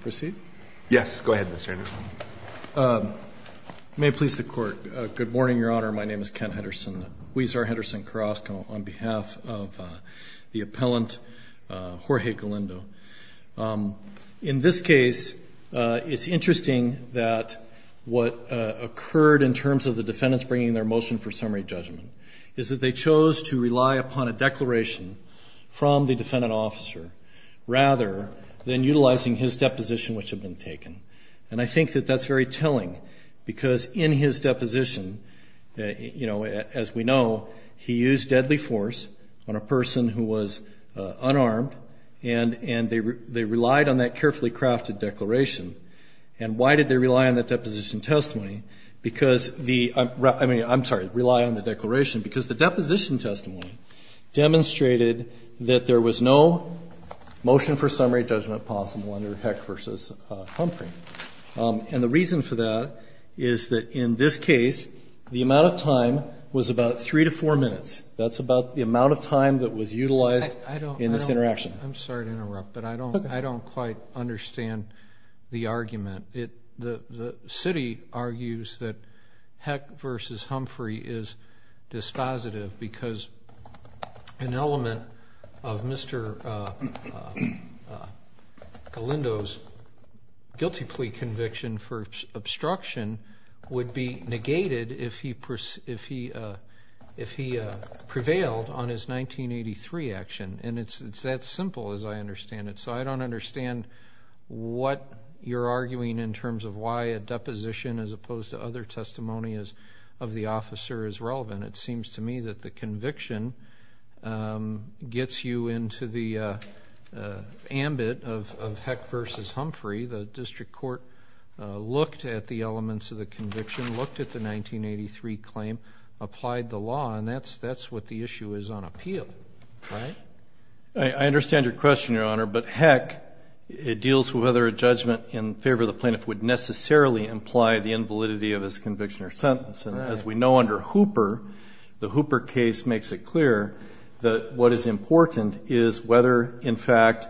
Proceed? Yes, go ahead Mr. Henderson. May it please the court. Good morning, your honor. My name is Kent Henderson. Huizar Henderson Carrasco on behalf of the appellant Jorge Galindo. In this case, it's interesting that what occurred in terms of the defendants bringing their motion for summary judgment is that they chose to rely upon a declaration from the defendant officer rather than utilizing his deposition which had been taken and I think that that's very telling because in his deposition that you know as we know he used deadly force on a person who was unarmed and and they they relied on that carefully crafted declaration and why did they rely on that deposition testimony because the I mean I'm sorry rely on the there was no motion for summary judgment possible under Heck v. Humphrey and the reason for that is that in this case the amount of time was about three to four minutes that's about the amount of time that was utilized in this interaction. I'm sorry to interrupt but I don't I don't quite understand the argument. The city argues that Heck v. Humphrey is dispositive because an element of Mr. Galindo's guilty plea conviction for obstruction would be negated if he if he if he prevailed on his 1983 action and it's it's that simple as I understand it so I don't understand what you're arguing in terms of why a deposition as opposed to other testimonies of the officer is relevant. It seems to me that the conviction gets you into the ambit of Heck v. Humphrey. The district court looked at the elements of the conviction looked at the 1983 claim applied the law and that's that's what the issue is on appeal. I understand your question your honor but Heck it deals with whether a judgment in favor of the plaintiff would necessarily imply the invalidity of his conviction or sentence and as we know under Hooper the Hooper case makes it clear that what is important is whether in fact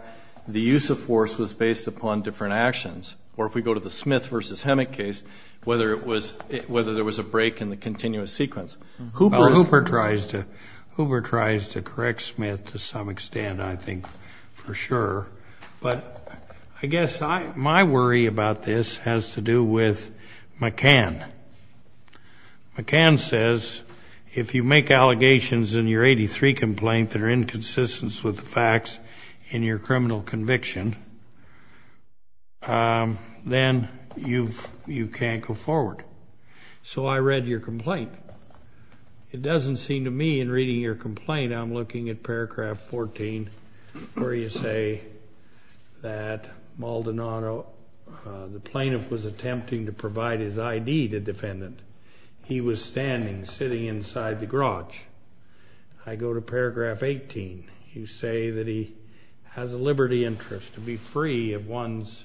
the use of force was based upon different actions or if we go to the Smith v. Hemick case whether it was whether there was a break in the continuous sequence. Hooper tries to Hooper tries to correct Smith to some extent I think for sure but I guess my worry about this has to do with McCann. McCann says if you make allegations in your 83 complaint that are inconsistent with the facts in your criminal conviction then you've you can't go forward. So I read your complaint it doesn't seem to me in reading your complaint I'm looking at paragraph 14 where you say that Maldonado the plaintiff was attempting to provide his ID to defendant he was standing sitting inside the garage. I go to paragraph 18 you say that he has a liberty interest to be free of one's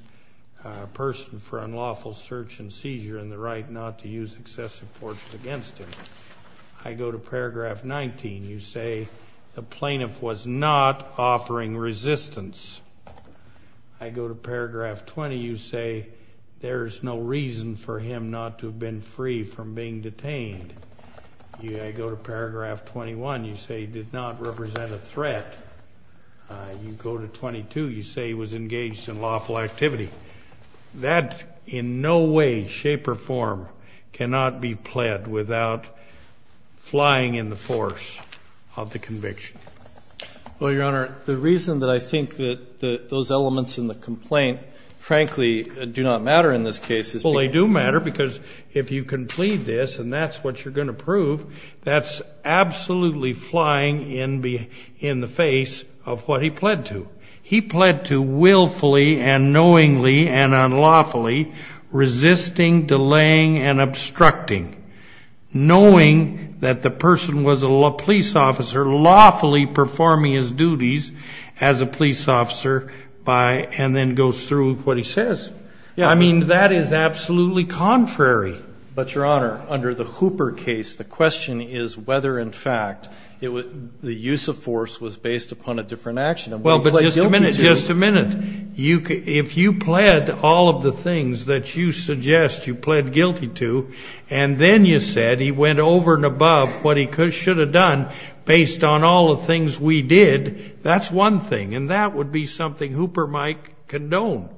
person for unlawful search and seizure and the right not to use excessive force against him. I go to paragraph 19 you say the plaintiff was not offering resistance. I go to paragraph 20 you say there is no reason for him not to have been free from being detained. I go to paragraph 21 you say did not represent a threat. You go to 22 you say he was engaged in lawful activity. That in no way shape or form cannot be pled without flying in the force of the conviction. Well your honor the reason that I think that those elements in the complaint frankly do not matter in this case. Well they do matter because if you can plead this and that's what you're going to prove that's absolutely flying in be in the face of what he pled to. He willfully and knowingly and unlawfully resisting delaying and obstructing knowing that the person was a police officer lawfully performing his duties as a police officer by and then goes through what he says. Yeah I mean that is absolutely contrary. But your honor under the Hooper case the question is whether in fact it was the use of force was based upon a different action. Well just a minute you could if you pled all of the things that you suggest you pled guilty to and then you said he went over and above what he could should have done based on all the things we did that's one thing and that would be something Hooper might condone.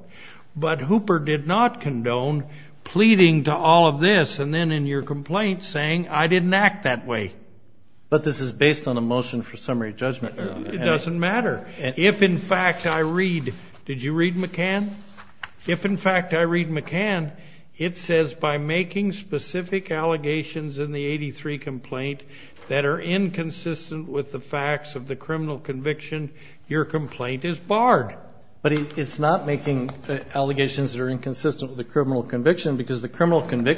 But Hooper did not condone pleading to all of this and then in your complaint saying I didn't act that way. But this is based on a motion for summary judgment. It doesn't matter and if in fact I read did you read McCann? If in fact I read McCann it says by making specific allegations in the 83 complaint that are inconsistent with the facts of the criminal conviction your complaint is barred. But it's not making allegations that are inconsistent with the criminal conviction because the criminal to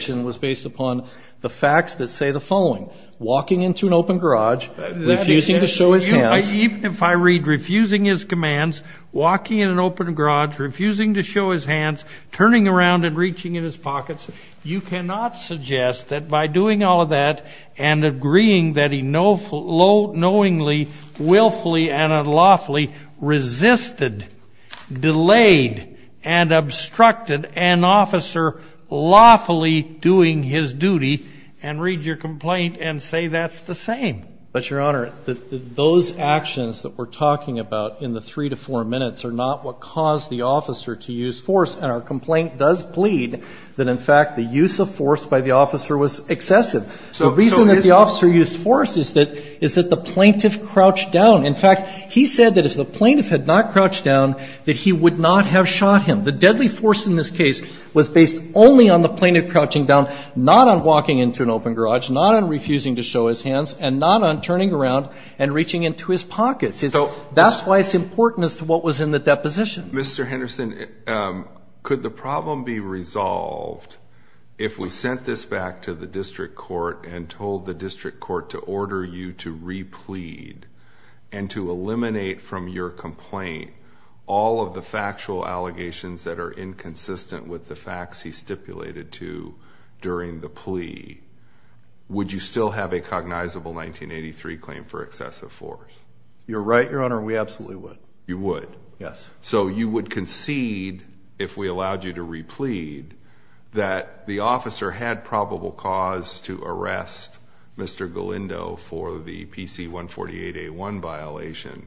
show his hands. Even if I read refusing his commands walking in an open garage refusing to show his hands turning around and reaching in his pockets you cannot suggest that by doing all of that and agreeing that he knowfully low knowingly willfully and unlawfully resisted delayed and obstructed an officer lawfully doing his duty and read your complaint and say that's the same. But those actions that we're talking about in the three to four minutes are not what caused the officer to use force and our complaint does plead that in fact the use of force by the officer was excessive. So the reason that the officer used force is that the plaintiff crouched down. In fact he said that if the plaintiff had not crouched down that he would not have shot him. The deadly force in this case was based only on the plaintiff crouching down, not on walking into an open garage, not on refusing to show his hands, and not on turning around and reaching into his pockets. That's why it's important as to what was in the deposition. Mr. Henderson, could the problem be resolved if we sent this back to the district court and told the district court to order you to replead and to eliminate from your complaint all of the factual would you still have a cognizable 1983 claim for excessive force? You're right, your honor, we absolutely would. You would? Yes. So you would concede, if we allowed you to replead, that the officer had probable cause to arrest Mr. Galindo for the PC-148A1 violation,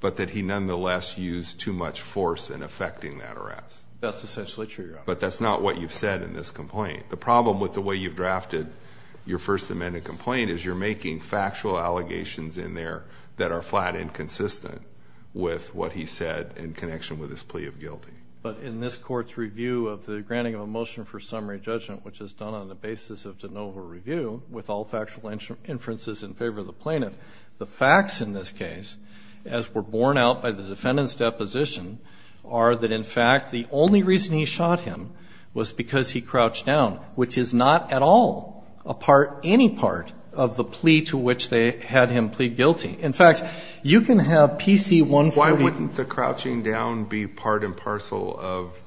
but that he nonetheless used too much force in affecting that arrest? That's essentially true, your honor. But that's not what you've said in this complaint. The problem with the way you've drafted your First Amendment complaint is you're making factual allegations in there that are flat and consistent with what he said in connection with his plea of guilty. But in this court's review of the granting of a motion for summary judgment, which is done on the basis of de novo review with all factual inferences in favor of the plaintiff, the facts in this case, as were borne out by the defendant's deposition, are that in fact the only reason he shot him was because he crouched down, which is not at all a part, any part, of the plea to which they had him plead guilty. In fact, you can have PC-148- Why wouldn't the crouching down be part and parcel of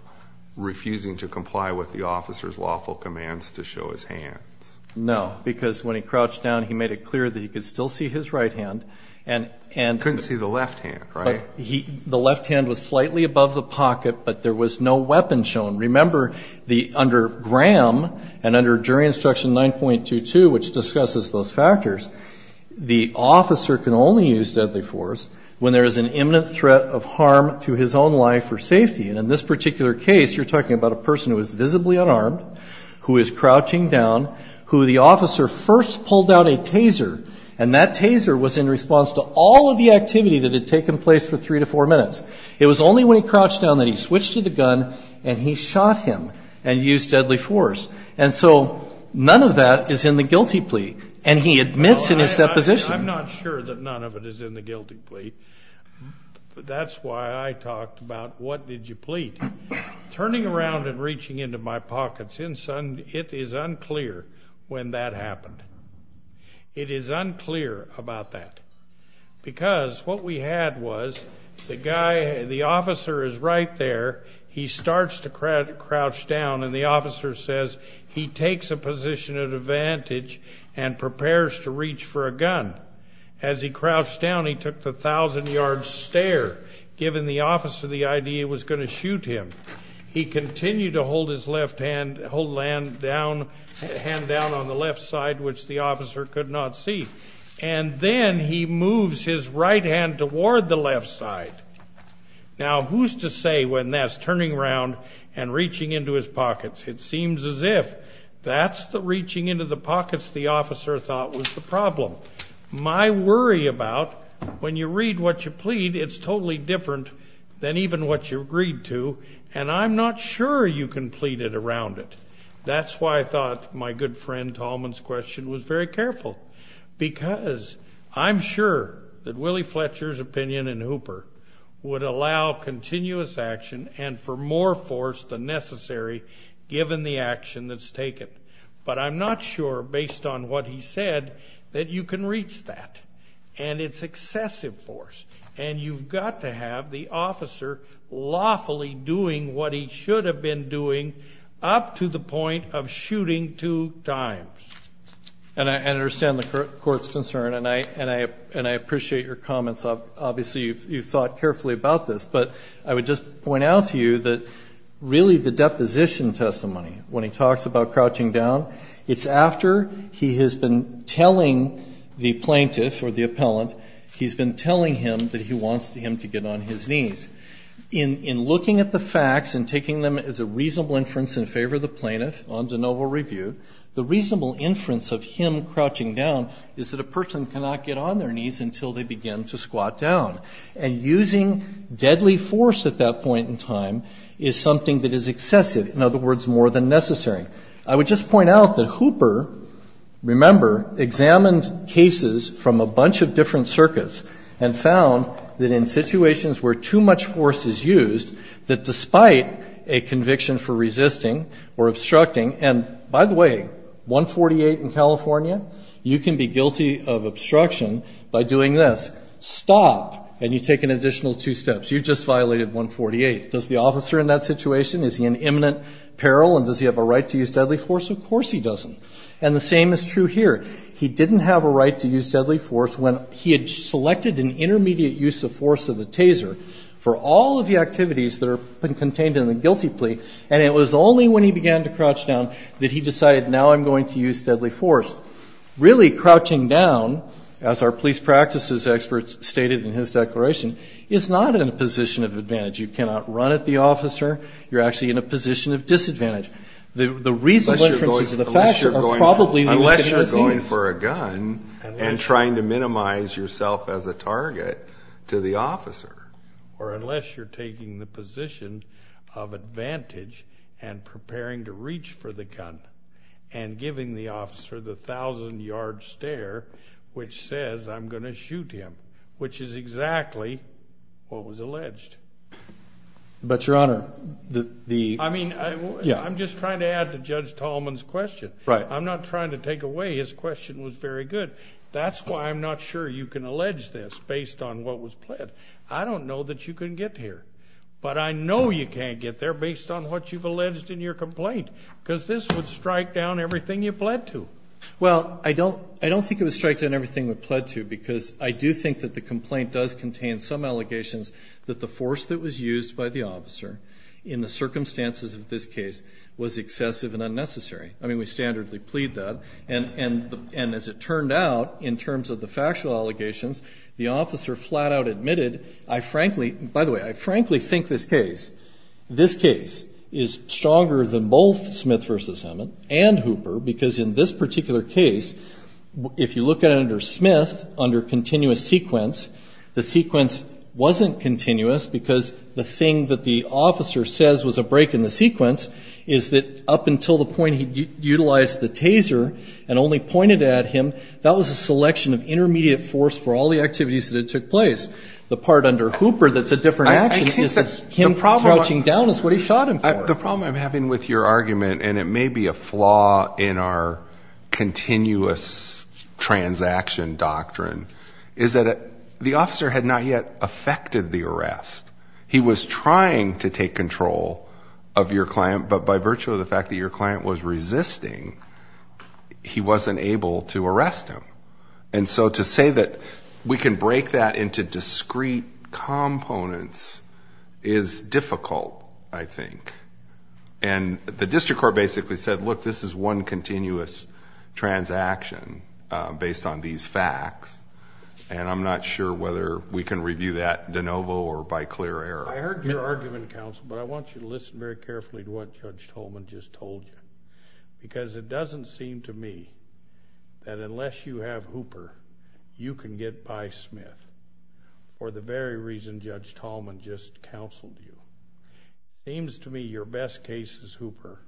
refusing to comply with the officer's lawful commands to show his hands? No, because when he crouched down, he made it clear that he could still see his right hand. And- Couldn't see the left hand, right? The left hand was slightly above the pocket, but there was no weapon shown. Remember, under Graham and under jury instruction 9.22, which discusses those factors, the officer can only use deadly force when there is an imminent threat of harm to his own life or safety. And in this particular case, you're talking about a person who is visibly unarmed, who is crouching down, who the officer first pulled out a taser, and that taser was in response to all of the activity that had taken place for three to four minutes. It was only when he crouched down that he switched to the gun and he shot him and used deadly force. And so none of that is in the guilty plea. And he admits in his deposition- I'm not sure that none of it is in the guilty plea, but that's why I talked about what did you plead. Turning around and reaching into my pockets, it is unclear when that happened. It is unclear about that. Because what we had was the guy, the officer is right there, he starts to crouch down and the officer says he takes a position of advantage and prepares to reach for a gun. As he crouched down, he took the thousand-yard stare, given the officer the idea it was going to shoot him. He continued to hold his hand down on the left side, which the officer could not see. And then he moves his right hand toward the left side. Now, who's to say when that's turning around and reaching into his pockets? It seems as if that's the reaching into the pockets the officer thought was the problem. My worry about when you read what you plead, it's totally different than even what you agreed to. And I'm not sure you can plead it around it. That's why I thought my good friend Tolman's question was very careful. Because I'm sure that Willie Fletcher's opinion in Hooper would allow continuous action and for more force than necessary, given the action that's taken. But I'm not sure, based on what he said, that you can reach that. And it's excessive force. And you've got to have the officer lawfully doing what he should have been doing up to the point of shooting two times. And I understand the court's concern and I appreciate your comments. Obviously, you've thought carefully about this. But I would just point out to you that really the deposition testimony, when he talks about crouching down, it's after he has been telling the plaintiff or the appellant, he's been telling him that he wants him to get on his knees. In looking at the facts and taking them as a reasonable inference in favor of the plaintiff on de novo review, the reasonable inference of him crouching down is that a person cannot get on their knees until they begin to squat down. And using deadly force at that point in time is something that is excessive, in other words, more than necessary. I would just point out that Hooper, remember, examined cases from a bunch of different circuits. And found that in situations where too much force is used, that despite a conviction for resisting or obstructing. And by the way, 148 in California, you can be guilty of obstruction by doing this. Stop, and you take an additional two steps. You just violated 148. Does the officer in that situation, is he in imminent peril, and does he have a right to use deadly force? Of course he doesn't. And the same is true here. He didn't have a right to use deadly force when he had selected an intermediate use of force of the taser. For all of the activities that are contained in the guilty plea. And it was only when he began to crouch down that he decided, now I'm going to use deadly force. Really crouching down, as our police practices experts stated in his declaration, is not in a position of advantage. You cannot run at the officer. You're actually in a position of disadvantage. The reasonable inferences of the fact are probably the use of deadly force. Unless you're going for a gun and trying to minimize yourself as a target to the officer. Or unless you're taking the position of advantage and preparing to reach for the gun. And giving the officer the thousand yard stare, which says I'm going to shoot him. Which is exactly what was alleged. But your honor, the. I mean, I'm just trying to add to Judge Tallman's question. Right. I'm not trying to take away his question was very good. That's why I'm not sure you can allege this based on what was pled. I don't know that you can get here. But I know you can't get there based on what you've alleged in your complaint. Because this would strike down everything you pled to. Well, I don't think it would strike down everything we pled to. Because I do think that the complaint does contain some allegations that the force that was used by the officer in the circumstances of this case was excessive and unnecessary. I mean, we standardly plead that. And as it turned out, in terms of the factual allegations, the officer flat out admitted. I frankly, by the way, I frankly think this case. Is stronger than both Smith versus Hammond and Hooper. Because in this particular case, if you look at it under Smith, under continuous sequence. The sequence wasn't continuous because the thing that the officer says was a break in the sequence. Is that up until the point he utilized the taser and only pointed at him. That was a selection of intermediate force for all the activities that took place. The part under Hooper that's a different action. Him crouching down is what he shot him for. The problem I'm having with your argument. And it may be a flaw in our continuous transaction doctrine. Is that the officer had not yet affected the arrest. He was trying to take control of your client. But by virtue of the fact that your client was resisting, he wasn't able to arrest him. And so to say that we can break that into discrete components is difficult, I think. And the district court basically said, look, this is one continuous transaction based on these facts. And I'm not sure whether we can review that de novo or by clear error. I heard your argument, counsel, but I want you to listen very carefully to what Judge Tolman just told you. Because it doesn't seem to me that unless you have Hooper, you can get by Smith. For the very reason Judge Tolman just counseled you. Seems to me your best case is Hooper.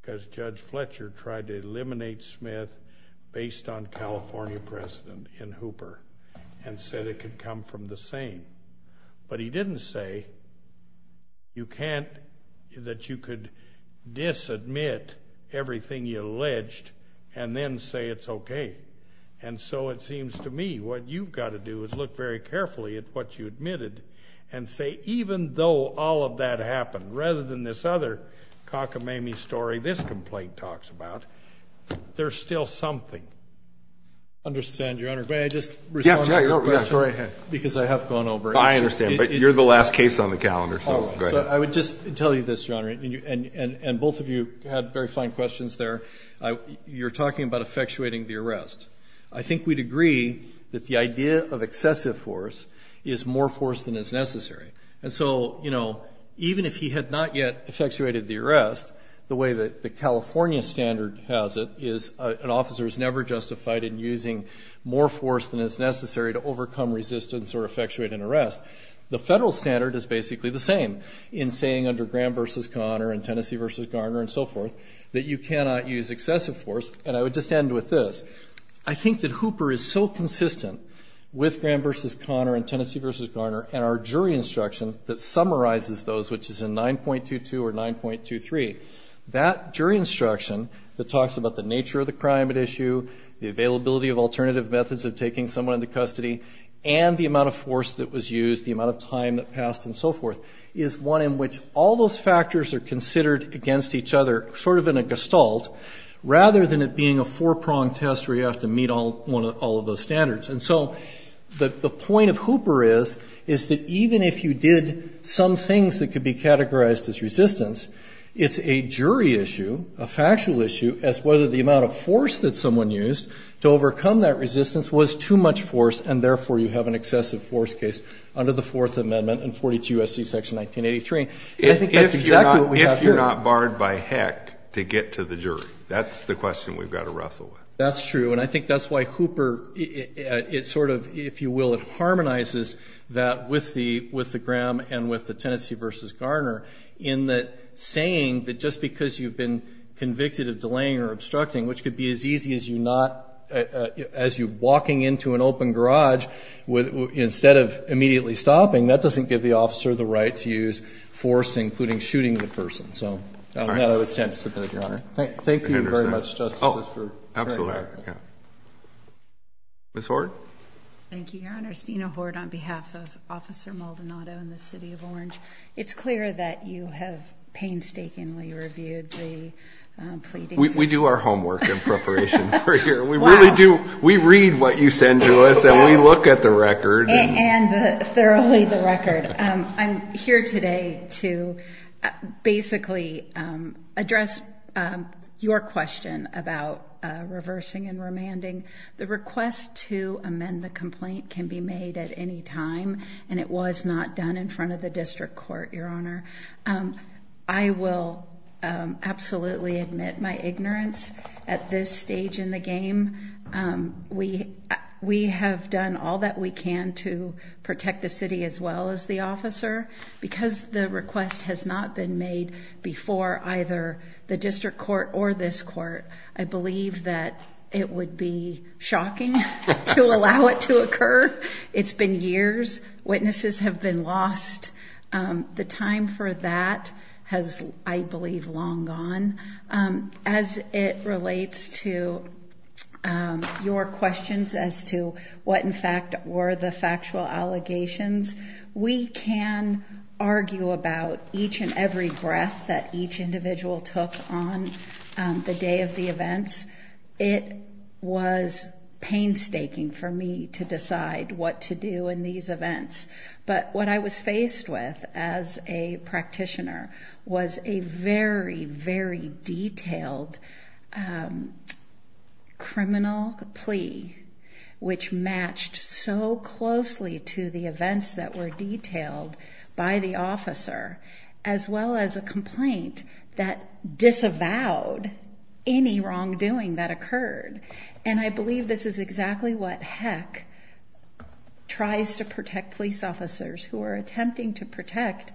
Because Judge Fletcher tried to eliminate Smith based on California precedent in Hooper. And said it could come from the same. But he didn't say you can't, that you could disadmit everything you alleged and then say it's okay. And so it seems to me what you've got to do is look very carefully at what you admitted. And say even though all of that happened, rather than this other cockamamie story this complaint talks about, there's still something. I understand, Your Honor. May I just respond to your question? Yeah, go right ahead. Because I have gone over it. I understand, but you're the last case on the calendar, so go ahead. I would just tell you this, Your Honor, and both of you had very fine questions there. You're talking about effectuating the arrest. I think we'd agree that the idea of excessive force is more force than is necessary. And so even if he had not yet effectuated the arrest, the way that the California standard has it is an officer is never justified in using more force than is necessary to overcome resistance or effectuate an arrest. The federal standard is basically the same in saying under Graham v. Connor and Tennessee v. Garner and so forth, that you cannot use excessive force. And I would just end with this. I think that Hooper is so consistent with Graham v. That jury instruction that talks about the nature of the crime at issue, the availability of alternative methods of taking someone into custody, and the amount of force that was used, the amount of time that passed, and so forth, is one in which all those factors are considered against each other, sort of in a gestalt, rather than it being a four-pronged test where you have to meet all of those standards. And so the point of Hooper is, is that even if you did some things that could be categorized as resistance, it's a jury issue, a factual issue, as whether the amount of force that someone used to overcome that resistance was too much force, and therefore you have an excessive force case under the Fourth Amendment and 42 U.S.C. Section 1983, and I think that's exactly what we have here. If you're not barred by heck to get to the jury, that's the question we've got to wrestle with. That's true, and I think that's why Hooper, it sort of, if you will, it harmonizes that with the Graham and with the Tennessee v. Garner, in that saying that just because you've been convicted of delaying or obstructing, which could be as easy as you not, as you walking into an open garage, instead of immediately stopping, that doesn't give the officer the right to use force, including shooting the person. So, I don't know, it's time to submit, Your Honor. Thank you very much, Justices, for your time. Thank you. Ms. Hoard? Thank you, Your Honor. Steena Hoard on behalf of Officer Maldonado in the City of Orange. It's clear that you have painstakingly reviewed the pleadings. We do our homework in preparation for here. We really do. We read what you send to us, and we look at the record. And thoroughly the record. I'm here today to basically address your question about reversing and remanding. The request to amend the complaint can be made at any time, and it was not done in front of the district court, Your Honor. I will absolutely admit my ignorance at this stage in the game. We have done all that we can to protect the city as well as the officer. Because the request has not been made before either the district court or this court, I believe that it would be shocking to allow it to occur. It's been years. Witnesses have been lost. The time for that has, I believe, long gone. As it relates to your questions as to what in fact were the factual allegations, we can argue about each and every breath that each individual took on the day of the events. It was painstaking for me to decide what to do in these events. But what I was faced with as a practitioner was a very, very detailed criminal plea, which matched so closely to the events that were detailed by the officer, as well as a complaint that disavowed any wrongdoing that occurred. And I believe this is exactly what HEC tries to protect police officers who are attempting to protect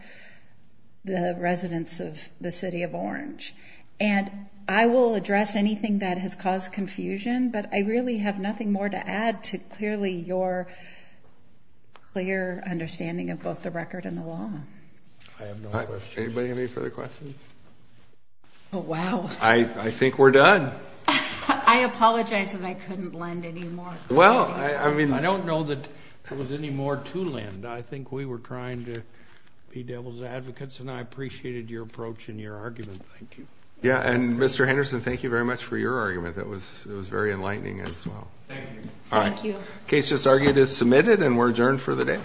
the residents of the city of Orange. And I will address anything that has caused confusion, but I really have nothing more to add to clearly your clear understanding of both the record and the law. Anybody have any further questions? Oh wow. I think we're done. I apologize that I couldn't lend any more. Well, I mean. I don't know that there was any more to lend. I think we were trying to be devil's advocates, and I appreciated your approach and your argument. Thank you. Yeah, and Mr. Henderson, thank you very much for your argument. It was very enlightening as well. Thank you. All right. Case just argued is submitted, and we're adjourned for the day.